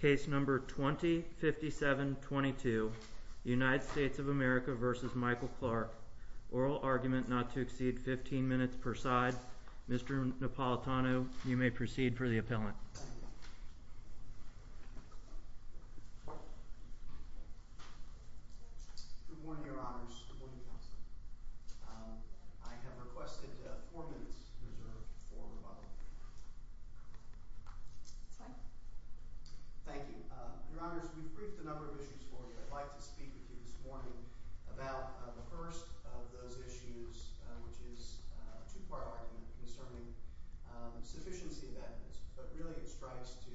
Case number 20-57-22, United States of America v. Michael Clark. Oral argument not to exceed 15 minutes per side. Mr. Napolitano, you may proceed for the appellant. Good morning, your honors. Good morning, counsel. I have requested four minutes reserved for rebuttal. This way. Thank you. Your honors, we've briefed a number of issues for you. I'd like to speak with you this morning about the first of those issues, which is a two-part argument concerning sufficiency of evidence. But really it strikes to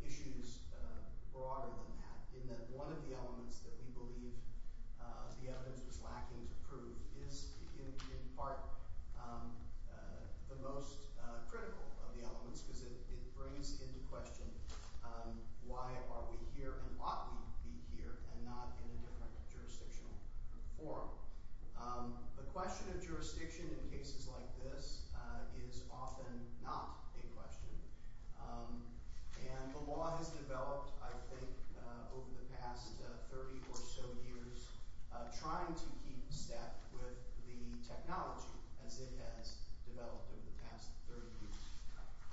issues broader than that, in that one of the elements that we believe the evidence was lacking to prove is in part the most critical of the elements, because it brings into question why are we here and ought we be here and not in a different jurisdictional forum. The question of jurisdiction in cases like this is often not a question. And the law has developed, I think, over the past 30 or so years, trying to keep step with the technology as it has developed over the past 30 years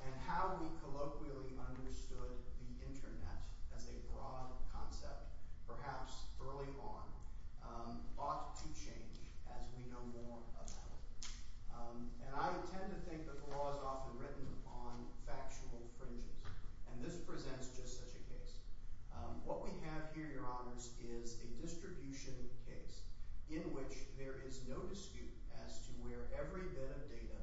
and how we colloquially understood the Internet as a broad concept, perhaps early on, ought to change as we know more about it. And I tend to think that the law is often written on factual fringes, and this presents just such a case. What we have here, Your Honors, is a distribution case in which there is no dispute as to where every bit of data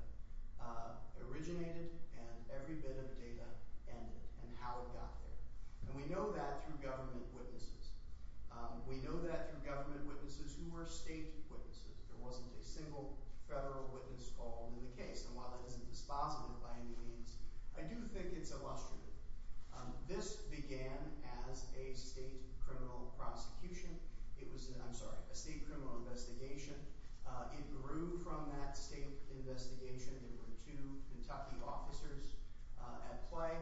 originated and every bit of data ended and how it got there. And we know that through government witnesses. We know that through government witnesses who were state witnesses. There wasn't a single federal witness called in the case. And while that isn't dispositive by any means, I do think it's illustrative. This began as a state criminal investigation. It grew from that state investigation. There were two Kentucky officers at play.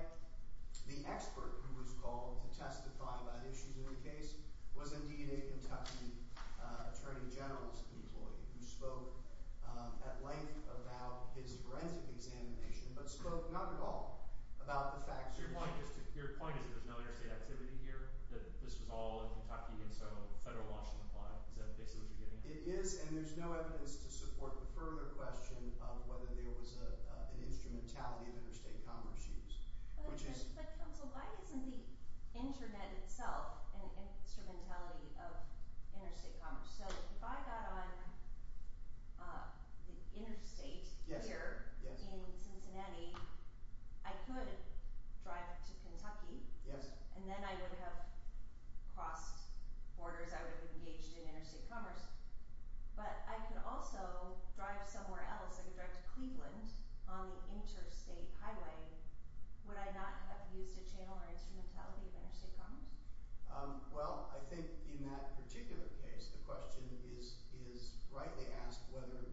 The expert who was called to testify about issues in the case was indeed a Kentucky Attorney General's employee who spoke at length about his forensic examination but spoke not at all about the facts of the case. Your point is that there's no interstate activity here, that this was all a Kentucky Inso, a federal Washington plot? Is that basically what you're getting at? It is, and there's no evidence to support the further question of whether there was an instrumentality of interstate commerce use. But, Counsel, why isn't the Internet itself an instrumentality of interstate commerce? So if I got on the interstate here in Cincinnati, I could drive to Kentucky. And then I would have crossed borders. I would have engaged in interstate commerce. But I could also drive somewhere else. I could drive to Cleveland on the interstate highway. Would I not have used a channel or instrumentality of interstate commerce? Well, I think in that particular case, the question is rightly asked whether the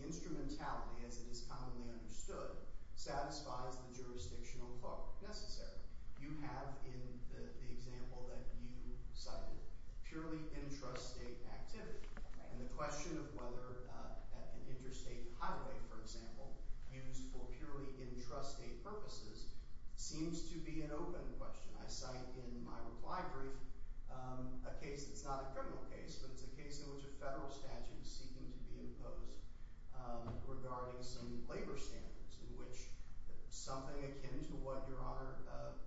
instrumentality, as it is commonly understood, satisfies the jurisdictional clause necessary. You have in the example that you cited purely intrastate activity. And the question of whether an interstate highway, for example, used for purely intrastate purposes seems to be an open question. I cite in my reply brief a case that's not a criminal case, but it's a case in which a federal statute is seeking to be imposed regarding some labor standards in which something akin to what Your Honor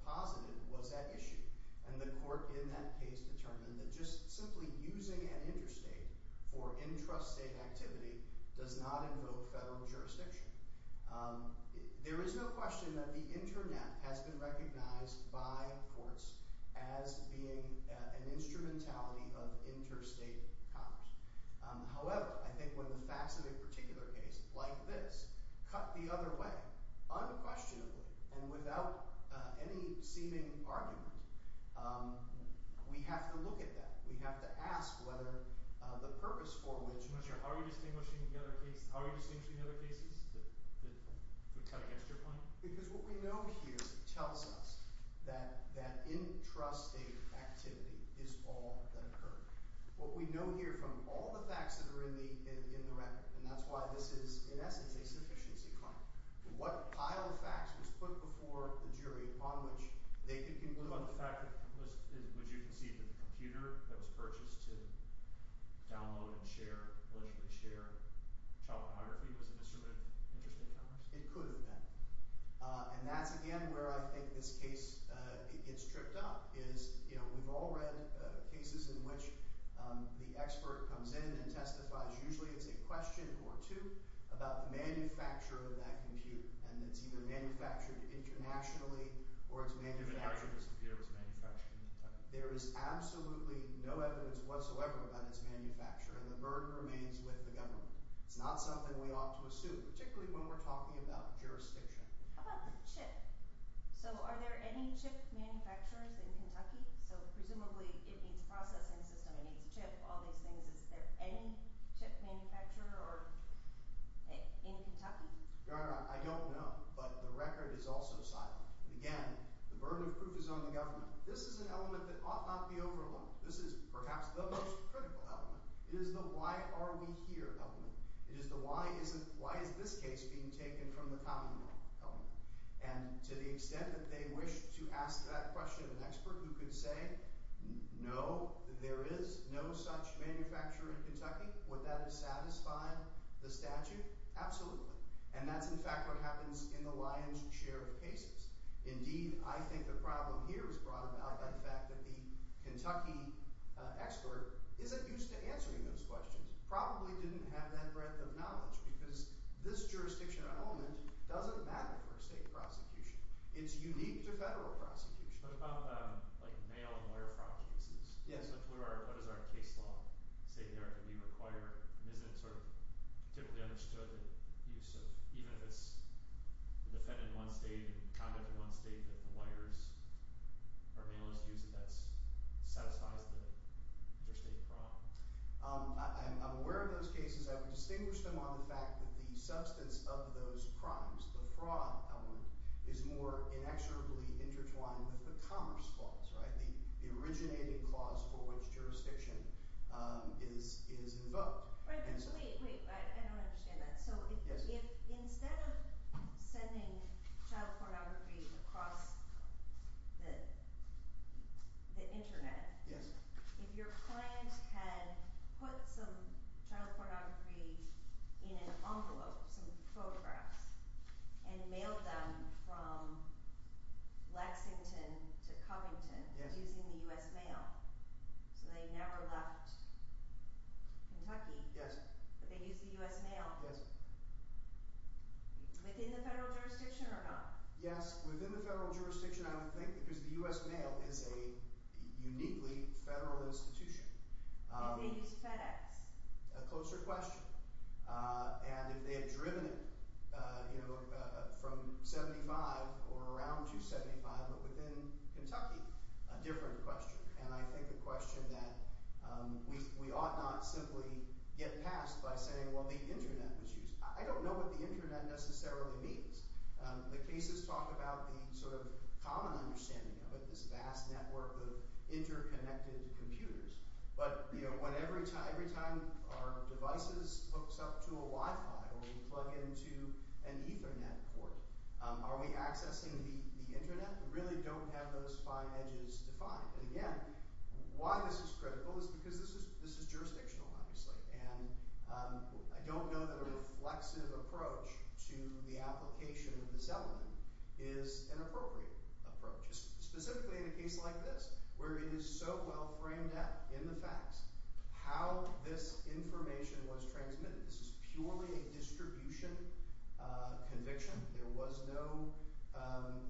posited was at issue. And the court in that case determined that just simply using an interstate for intrastate activity does not invoke federal jurisdiction. There is no question that the internet has been recognized by courts as being an instrumentality of interstate commerce. However, I think when the facts of a particular case like this cut the other way unquestionably and without any seeming argument, we have to look at that. We have to ask whether the purpose for which... How are you distinguishing the other cases, to cut against your point? Because what we know here tells us that that intrastate activity is all that occurred. What we know here from all the facts that are in the record, and that's why this is, in essence, a sufficiency claim. What pile of facts was put before the jury upon which they could conclude... that what was purchased to download and share, allegedly share, child pornography was an instrument of interstate commerce? It could have been. And that's, again, where I think this case gets tripped up. We've all read cases in which the expert comes in and testifies, usually it's a question or two, about the manufacturer of that computer. And it's either manufactured internationally or it's manufactured... Even after this computer was manufactured in the United States. There is absolutely no evidence whatsoever about its manufacture, and the burden remains with the government. It's not something we ought to assume, particularly when we're talking about jurisdiction. How about the chip? So are there any chip manufacturers in Kentucky? So presumably it needs a processing system, it needs a chip, all these things. Is there any chip manufacturer in Kentucky? Your Honor, I don't know, but the record is also silent. Again, the burden of proof is on the government. This is an element that ought not be overlooked. This is perhaps the most critical element. It is the why are we here element. It is the why is this case being taken from the common law element. And to the extent that they wish to ask that question of an expert who could say no, there is no such manufacturer in Kentucky, would that have satisfied the statute? Absolutely. And that's, in fact, what happens in the lion's share of cases. Indeed, I think the problem here is brought about by the fact that the Kentucky expert isn't used to answering those questions, probably didn't have that breadth of knowledge, because this jurisdiction element doesn't matter for a state prosecution. It's unique to federal prosecution. What about, like, male lawyer fraud cases? Yes. What is our case law saying there that we require and isn't sort of typically understood use of, even if it's defendant in one state and conduct in one state, that the lawyers or analysts use it, that satisfies the interstate fraud? I'm aware of those cases. I would distinguish them on the fact that the substance of those crimes, the fraud element, is more inexorably intertwined with the commerce clause, right? The originating clause for which jurisdiction is invoked. Right. Wait, wait. I don't understand that. So if instead of sending child pornography across the Internet, if your client had put some child pornography in an envelope, some photographs, and mailed them from Lexington to Covington using the U.S. mail, so they never left Kentucky, but they used the U.S. mail, within the federal jurisdiction or not? Yes, within the federal jurisdiction, I would think, because the U.S. mail is a uniquely federal institution. If they used FedEx? A closer question. And if they had driven it from 75 or around 275, but within Kentucky, a different question. And I think a question that we ought not simply get past by saying, well, the Internet was used. I don't know what the Internet necessarily means. The cases talk about the sort of common understanding of it, this vast network of interconnected computers. But every time our devices hooks up to a Wi-Fi or we plug into an Ethernet port, are we accessing the Internet? We really don't have those fine edges to find. And, again, why this is critical is because this is jurisdictional, obviously. And I don't know that a reflexive approach to the application of this element is an appropriate approach, specifically in a case like this, where it is so well framed out in the facts how this information was transmitted. This is purely a distribution conviction. There was no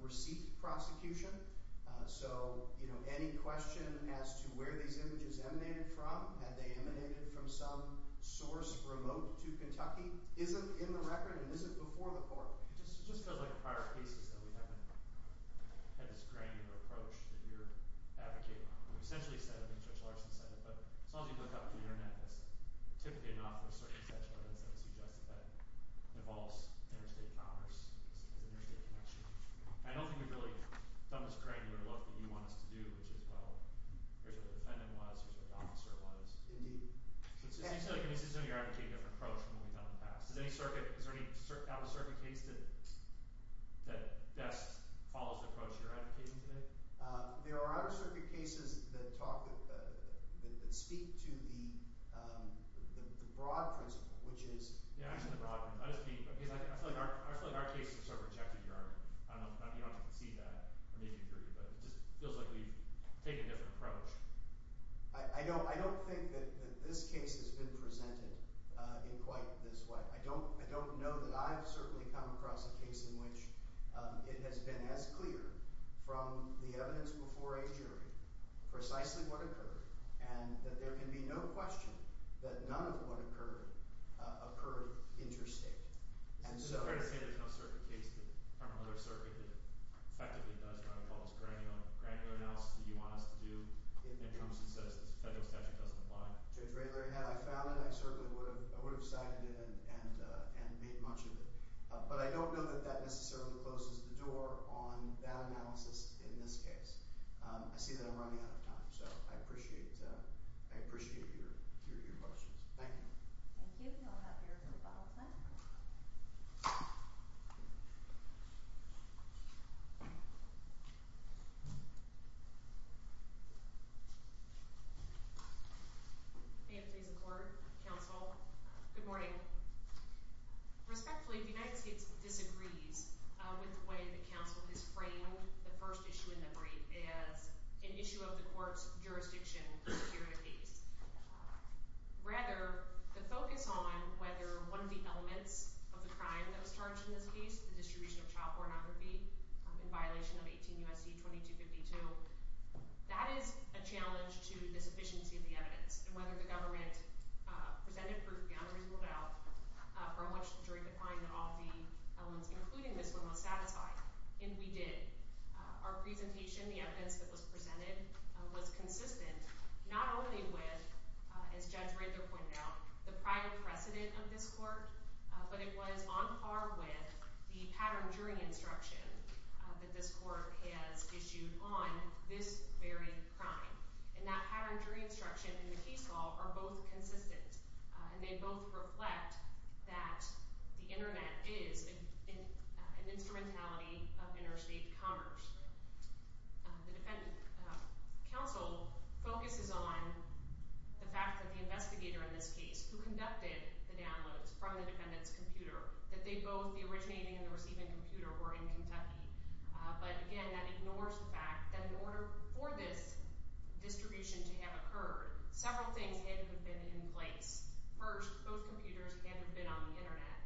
receipt prosecution. So, you know, any question as to where these images emanated from, had they emanated from some source remote to Kentucky, isn't in the record and isn't before the court. It just feels like in prior cases that we haven't had this granular approach that you're advocating. We've essentially said it, and Judge Larson said it, but as long as you look up the Internet, it's typically enough for a certain set of evidence that would suggest that it involves interstate commerce as an interstate connection. I don't think we've really done this granular look that you want us to do, which is, well, here's what the defendant was, here's what the officer was. Indeed. So it seems to me you're advocating a different approach from what we've done in the past. Is there any out-of-circuit case that best follows the approach you're advocating today? There are out-of-circuit cases that speak to the broad principle, which is… Yeah, actually the broad one. I feel like our cases are sort of rejected here. I don't know if you can see that or if you agree, but it just feels like we've taken a different approach. I don't think that this case has been presented in quite this way. I don't know that I've certainly come across a case in which it has been as clear from the evidence before a jury precisely what occurred and that there can be no question that none of what occurred occurred interstate. Is it fair to say there's no circuit case from another circuit that effectively does run across granular analysis that you want us to do and promises us the federal statute doesn't apply? Judge Ray, had I found it, I certainly would have cited it and made much of it. But I don't know that that necessarily closes the door on that analysis in this case. I see that I'm running out of time, so I appreciate your questions. Thank you. Thank you. We'll have your rebuttal time. May it please the Court, Counsel. Good morning. Respectfully, the United States disagrees with the way the Counsel has framed the first issue in the brief as an issue of the court's jurisdiction security case. Rather, the focus on whether one of the elements of the crime that was charged in this case, the distribution of child pornography in violation of 18 U.S.C. 2252, that is a challenge to the sufficiency of the evidence and whether the government presented proof beyond a reasonable doubt for how much the jury could find that all the elements, including this one, was satisfied, and we did. Our presentation, the evidence that was presented, was consistent not only with, as Judge Rader pointed out, the prior precedent of this court, but it was on par with the pattern jury instruction that this court has issued on this very crime. And that pattern jury instruction and the case law are both consistent, and they both reflect that the Internet is an instrumentality of interstate commerce. The defendant, Counsel, focuses on the fact that the investigator in this case, who conducted the downloads from the defendant's computer, that they both, the originating and the receiving computer, were in Kentucky. But again, that ignores the fact that in order for this distribution to have occurred, several things had to have been in place. First, both computers had to have been on the Internet.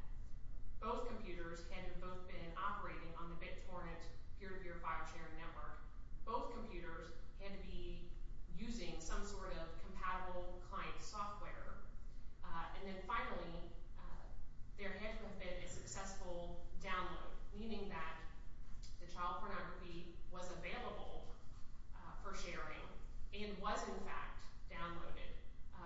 Both computers had to have both been operating on the BitTorrent peer-to-peer file sharing network. Both computers had to be using some sort of compatible client software. And then finally, there had to have been a successful download, meaning that the child pornography was available for sharing and was in fact downloaded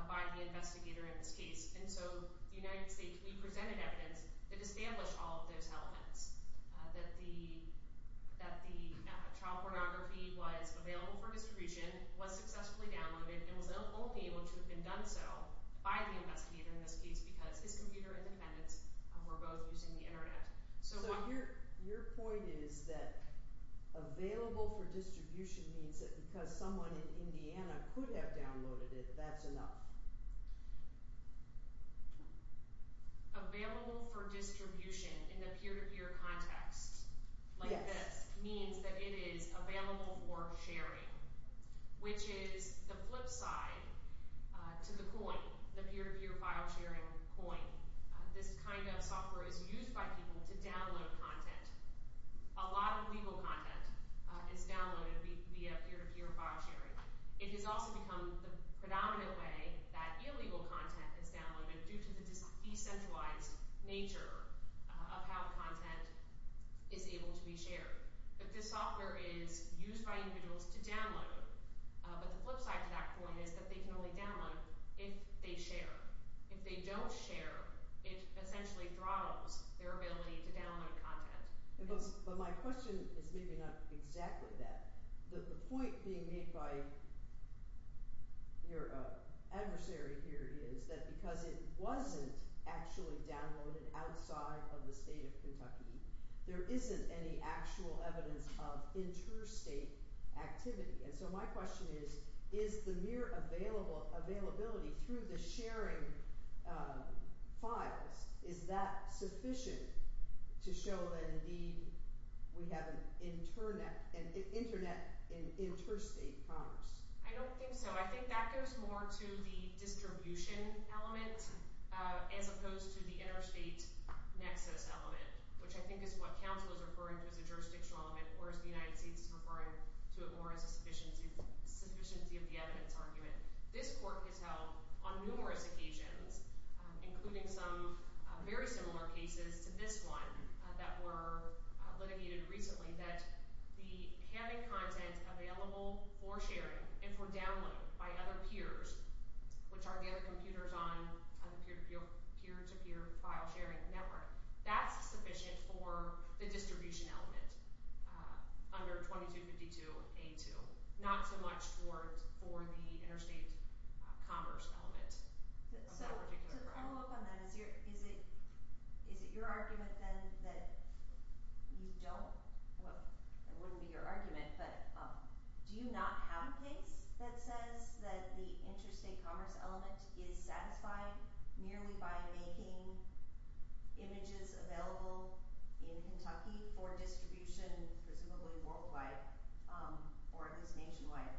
by the investigator in this case. And so the United States, we presented evidence that established all of those elements, that the child pornography was available for distribution, was successfully downloaded, and was only able to have been done so by the investigator in this case because his computer and the defendant's were both using the Internet. So your point is that available for distribution means that because someone in Indiana could have downloaded it, that's enough. Available for distribution in the peer-to-peer context, like this, means that it is available for sharing, which is the flip side to the coin, the peer-to-peer file sharing coin. This kind of software is used by people to download content. A lot of legal content is downloaded via peer-to-peer file sharing. It has also become the predominant way that illegal content is downloaded due to the decentralized nature of how the content is able to be shared. But this software is used by individuals to download. But the flip side to that coin is that they can only download if they share. If they don't share, it essentially throttles their ability to download content. But my question is maybe not exactly that. The point being made by your adversary here is that because it wasn't actually downloaded outside of the state of Kentucky, there isn't any actual evidence of interstate activity. So my question is, is the mere availability through the sharing files, is that sufficient to show that indeed we have an internet in interstate commerce? I don't think so. I think that goes more to the distribution element as opposed to the interstate nexus element, which I think is what counsel is referring to as a jurisdictional element, whereas the United States is referring to it more as a sufficiency of the evidence argument. This court has held on numerous occasions, including some very similar cases to this one that were litigated recently, that having content available for sharing and for downloading by other peers, which are the other computers on the peer-to-peer file sharing network, that's sufficient for the distribution element under 2252A2, not so much for the interstate commerce element. So to follow up on that, is it your argument then that you don't? Well, it wouldn't be your argument, but do you not have a case that says that the interstate commerce element is satisfied merely by making images available in Kentucky for distribution, presumably worldwide or at least nationwide?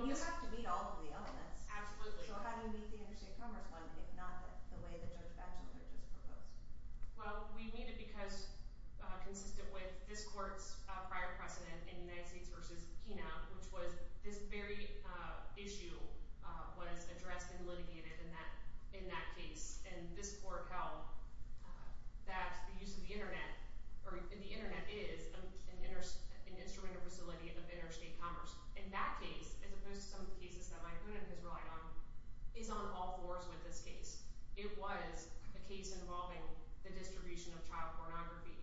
You have to meet all of the elements. Absolutely. So how do you meet the interstate commerce one, if not the way that Judge Batchelder just proposed? Well, we meet it because, consistent with this court's prior precedent in United States v. Kenow, which was this very issue was addressed and litigated in that case, and this court held that the use of the Internet, or the Internet is an instrumental facility of interstate commerce. In that case, as opposed to some of the cases that Mike Hoonan has relied on, is on all fours with this case. It was a case involving the distribution of child pornography,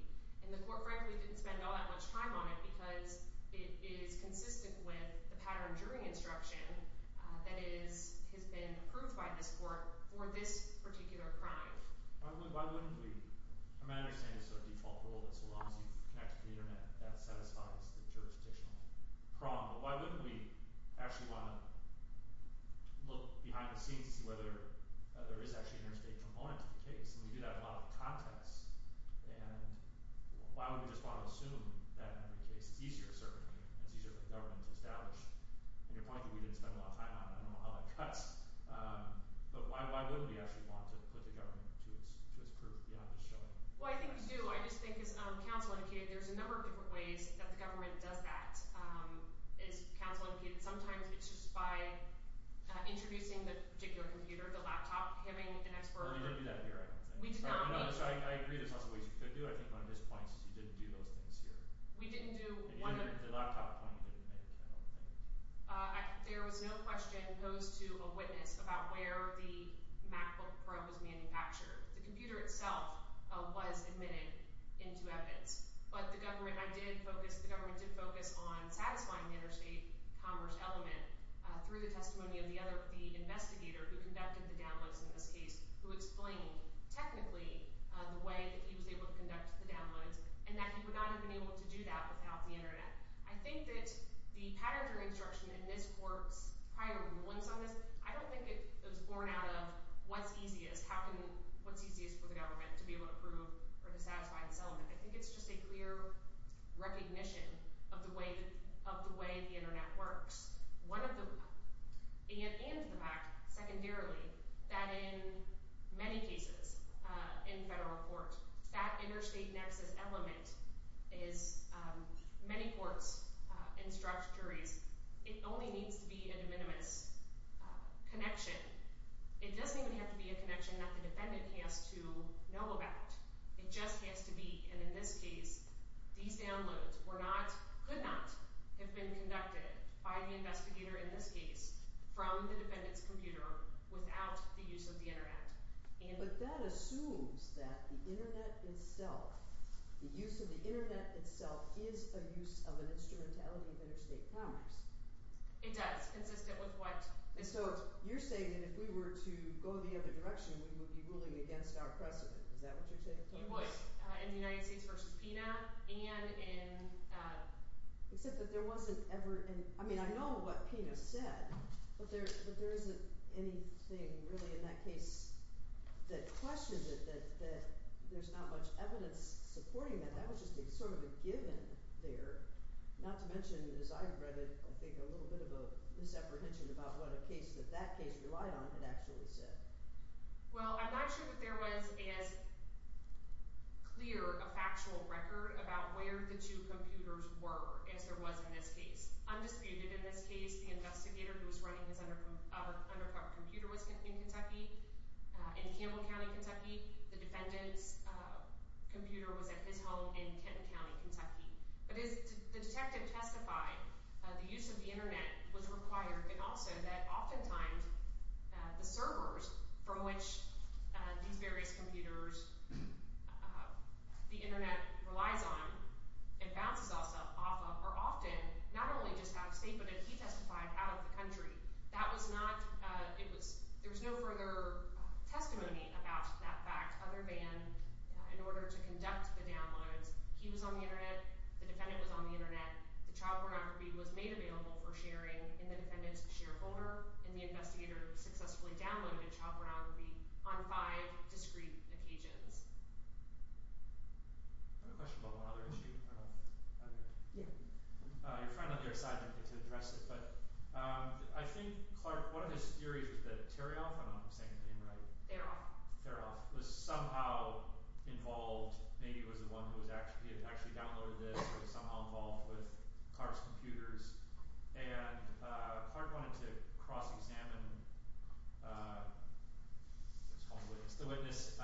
and the court frankly didn't spend all that much time on it because it is consistent with the pattern during instruction that has been approved by this court for this particular crime. Why wouldn't we? I mean, I understand it's a default rule that so long as you've connected to the Internet, that satisfies the jurisdictional prong, but why wouldn't we actually want to look behind the scenes to see whether there is actually an interstate component to the case? And we do that in a lot of contexts, and why would we just want to assume that in every case, it's easier for the government to establish? And your point that we didn't spend a lot of time on, I don't know how that cuts, but why wouldn't we actually want to put the government to its proof beyond just showing? Well, I think we do. I just think, as counsel indicated, there's a number of different ways that the government does that. As counsel indicated, sometimes it's just by introducing the particular computer, the laptop, having an expert. We didn't do that here, I don't think. I agree there's lots of ways you could do it, I think, on this point, since you didn't do those things here. The laptop point you didn't make, I don't think. There was no question posed to a witness about where the MacBook Pro was manufactured. The computer itself was admitted into evidence. But the government did focus on satisfying the interstate commerce element through the testimony of the investigator who conducted the downloads in this case, who explained technically the way that he was able to conduct the downloads and that he would not have been able to do that without the Internet. I think that the patterns of instruction in this court's prior rulings on this, I don't think it was born out of what's easiest, what's easiest for the government to be able to prove or to satisfy this element. I think it's just a clear recognition of the way the Internet works. And the fact, secondarily, that in many cases in federal court, that interstate nexus element is, many courts instruct juries, it only needs to be a de minimis connection. It doesn't even have to be a connection that the defendant has to know about. It just has to be, and in this case, these downloads were not, could not have been conducted by the investigator in this case from the defendant's computer without the use of the Internet. But that assumes that the Internet itself, the use of the Internet itself is a use of an instrumentality of interstate commerce. It does, consistent with what Mr. – So you're saying that if we were to go the other direction, we would be ruling against our precedent. Is that what you're saying? In the United States versus PINA and in – Except that there wasn't ever – I mean, I know what PINA said, but there isn't anything really in that case that questions it, that there's not much evidence supporting that. That would just be sort of a given there, not to mention, as I read it, I think a little bit of a misapprehension about what a case that that case relied on had actually said. Well, I'm not sure that there was as clear a factual record about where the two computers were as there was in this case. Undisputed in this case, the investigator who was running his undercover computer was in Kentucky, in Campbell County, Kentucky. The defendant's computer was at his home in Kenton County, Kentucky. But as the detective testified, the use of the Internet was required, but also that oftentimes the servers from which these various computers, the Internet relies on and bounces off of are often not only just out of state, but as he testified, out of the country. That was not – it was – there was no further testimony about that fact other than in order to conduct the downloads, he was on the Internet, the defendant was on the Internet, the child pornography was made available for sharing in the defendant's shareholder, and the investigator successfully downloaded child pornography on five discrete occasions. I have a question about one other issue. Your friend on the other side didn't get to address it, but I think, Clark, one of his theories was that Teroff – I don't know if I'm saying the name right. Teroff. Teroff was somehow involved – maybe it was the one who actually downloaded this but Teroff was somehow involved with Clark's computers, and Clark wanted to cross-examine the witness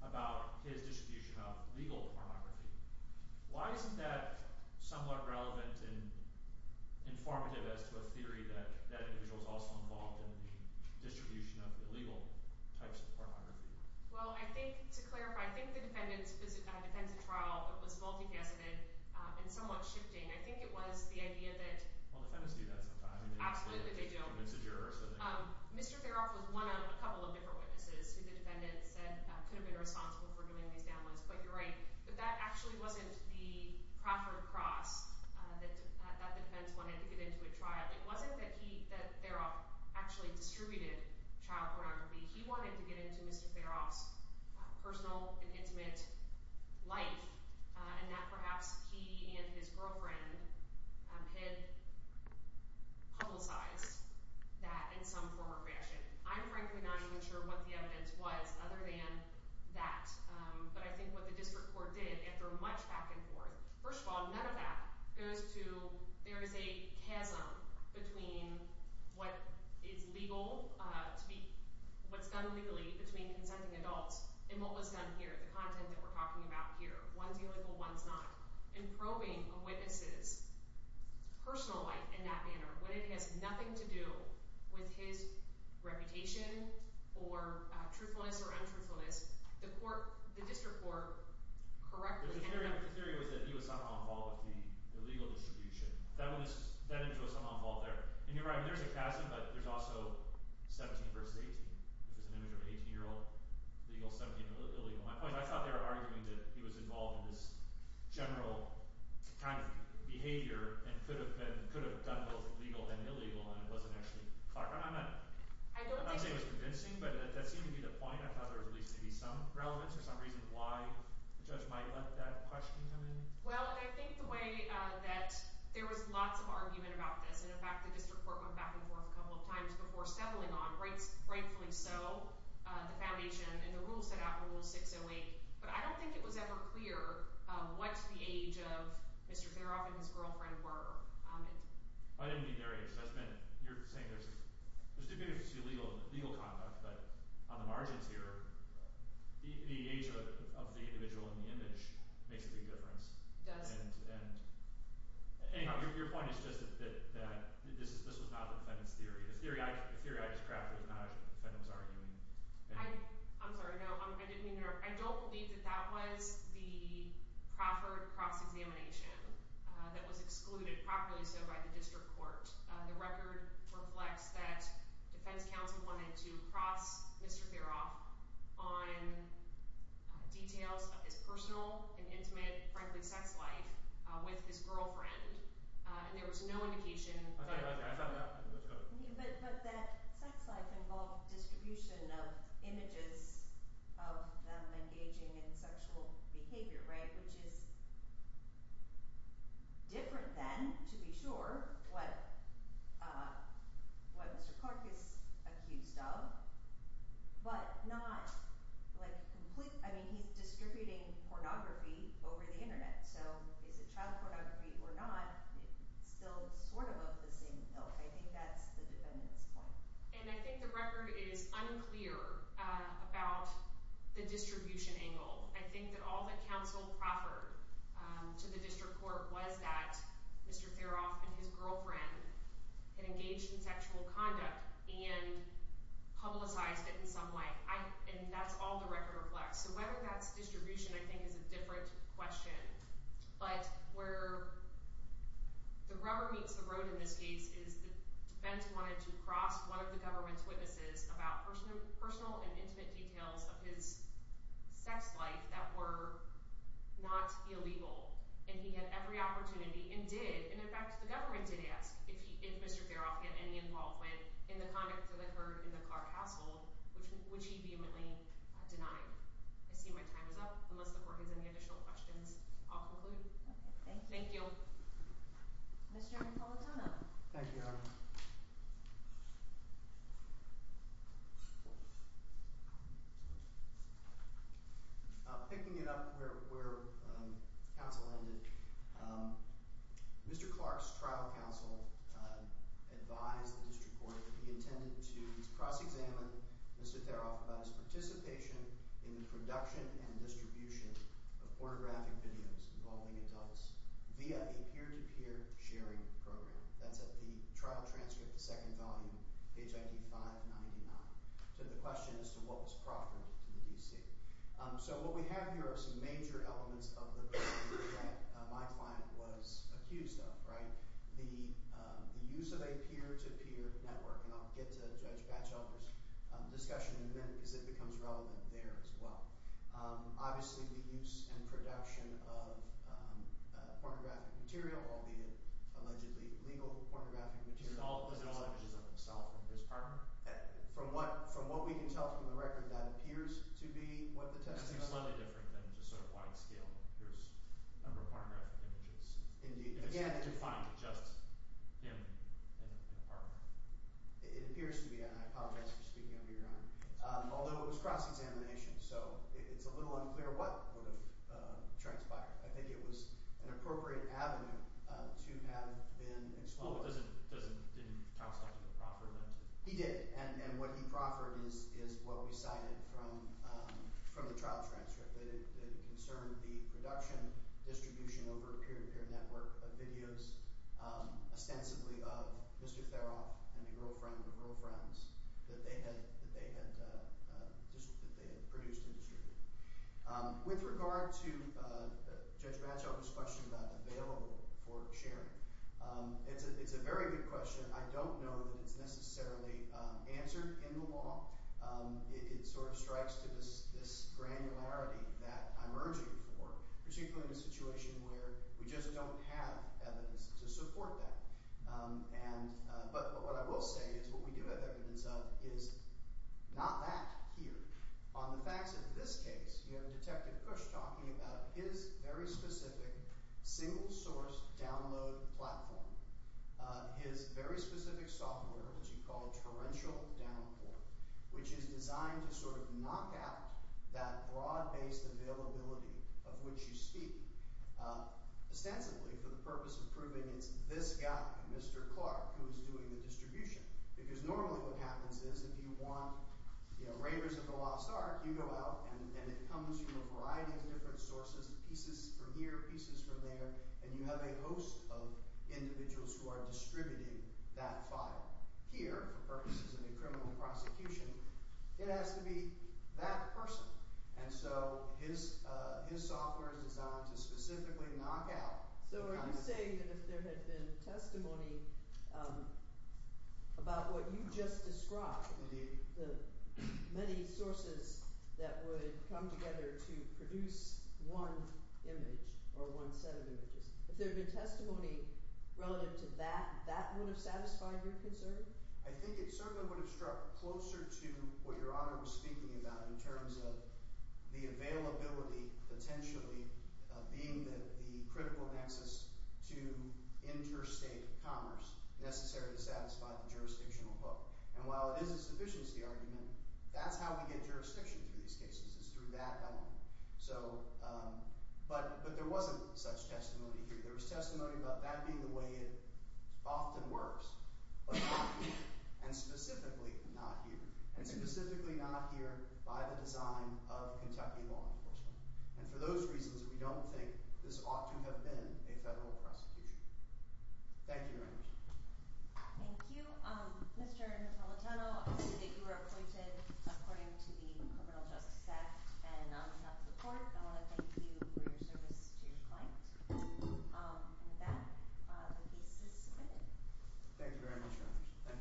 about his distribution of legal pornography. Why isn't that somewhat relevant and informative as to a theory that that individual was also involved in the distribution of illegal types of pornography? Well, I think, to clarify, I think the defendant's defense of trial was multifaceted and somewhat shifting. I think it was the idea that – Well, defendants do that sometimes. Absolutely they do. Mr. Teroff was one of a couple of different witnesses who the defendant said could have been responsible for doing these downloads, but you're right. But that actually wasn't the proper cross that the defense wanted to get into a trial. It wasn't that he – that Teroff actually distributed child pornography. He wanted to get into Mr. Teroff's personal and intimate life, and that perhaps he and his girlfriend had publicized that in some form or fashion. I'm frankly not even sure what the evidence was other than that, but I think what the district court did, after much back and forth – there is a chasm between what is legal to be – what's done legally between consenting adults and what was done here, the content that we're talking about here. One's illegal, one's not. In probing a witness's personal life in that manner, when it has nothing to do with his reputation or truthfulness or untruthfulness, the court – the district court correctly – The theory was that he was somehow involved with the illegal distribution. That image was somehow involved there. And you're right. There's a chasm, but there's also 17 v. 18, which is an image of an 18-year-old – legal, 17, illegal. My point is I thought they were arguing that he was involved in this general kind of behavior and could have done both legal and illegal, and it wasn't actually – I'm not saying it was convincing, but that seemed to be the point. I thought there was at least going to be some relevance or some reason why the judge might let that question come in. Well, I think the way that – there was lots of argument about this, and in fact the district court went back and forth a couple of times before settling on, rightfully so, the foundation and the rules set out in Rule 608, but I don't think it was ever clear what the age of Mr. Feroff and his girlfriend were. I didn't mean their age. You're saying there's – there's the beauty of legal conduct, but on the margins here, the age of the individual in the image makes a big difference. It does. Anyhow, your point is just that this was not the defendant's theory. The theory I just crafted was not what the defendant was arguing. I'm sorry. No, I didn't mean to interrupt. I don't believe that that was the Crawford cross-examination that was excluded properly so by the district court. The record reflects that defense counsel wanted to cross Mr. Feroff on details of his personal and intimate, frankly, sex life with his girlfriend, and there was no indication – I'm sorry. I thought of that. But that sex life involved distribution of images of them engaging in sexual behavior, right, which is different than, to be sure, what Mr. Clark is accused of, but not, like, completely – I mean, he's distributing pornography over the Internet, so is it child pornography or not, it's still sort of of the same ilk. I think that's the defendant's point. And I think the record is unclear about the distribution angle. I think that all that counsel proffered to the district court was that Mr. Feroff and his girlfriend had engaged in sexual conduct and publicized it in some way, and that's all the record reflects. So whether that's distribution I think is a different question. But where the rubber meets the road in this case about personal and intimate details of his sex life that were not illegal, and he had every opportunity and did – and, in fact, the government did ask if Mr. Feroff had any involvement in the conduct that they heard in the Clark household, which he vehemently denied. I see my time is up. Unless the court has any additional questions, I'll conclude. Thank you. Mr. Napolitano. Thank you. Picking it up where counsel ended, Mr. Clark's trial counsel advised the district court that he intended to cross-examine Mr. Feroff about his participation in the production and distribution of pornographic videos involving adults via a peer-to-peer sharing program. That's at the trial transcript, the second volume, HID 599. So the question is to what was proffered to the D.C. So what we have here are some major elements of the program that my client was accused of. The use of a peer-to-peer network – and I'll get to Judge Batchelder's discussion in a minute because it becomes relevant there as well – obviously the use and production of pornographic material, albeit allegedly legal pornographic material, all of which is of himself and his partner. From what we can tell from the record, that appears to be what the testimony – That's slightly different than just sort of wide-scale. There's a number of pornographic images. Indeed. It's defined just him and his partner. It appears to be – and I apologize for speaking under your arm – although it was cross-examination, so it's a little unclear what would have transpired. I think it was an appropriate avenue to have been exposed. Well, but doesn't – didn't counsel have to proffer that? He did, and what he proffered is what we cited from the trial transcript. It concerned the production, distribution over a peer-to-peer network of videos ostensibly of Mr. Theroff and a girlfriend of girlfriends that they had produced and distributed. With regard to Judge Batchelder's question about available for sharing, it's a very good question. I don't know that it's necessarily answered in the law. It sort of strikes to this granularity that I'm urging for, particularly in a situation where we just don't have evidence to support that. But what I will say is what we do have evidence of is not that here. On the facts of this case, you have Detective Cush talking about his very specific single-source download platform, his very specific software, which he called Torrential Downpour, which is designed to sort of knock out that broad-based availability of which you speak, ostensibly for the purpose of proving it's this guy, Mr. Clark, who is doing the distribution. Because normally what happens is if you want Raiders of the Lost Ark, you go out and it comes from a variety of different sources, pieces from here, pieces from there, and you have a host of individuals who are distributing that file here for purposes of a criminal prosecution, it has to be that person. And so his software is designed to specifically knock out. So are you saying that if there had been testimony about what you just described, the many sources that would come together to produce one image or one set of images, if there had been testimony relative to that, that would have satisfied your concern? I think it certainly would have struck closer to what Your Honor was speaking about in terms of the availability potentially being the critical nexus to interstate commerce necessary to satisfy the jurisdictional hook. And while it is a sufficiency argument, that's how we get jurisdiction through these cases, is through that element. But there wasn't such testimony here. There was testimony about that being the way it often works. But not here, and specifically not here. And specifically not here by the design of Kentucky law enforcement. And for those reasons, we don't think this ought to have been a federal prosecution. Thank you, Your Honor. Thank you. Mr. Napolitano, I see that you were appointed according to the criminal justice act and not to the court. I want to thank you for your service to your client. And with that, the case is submitted. Thank you very much, Your Honor.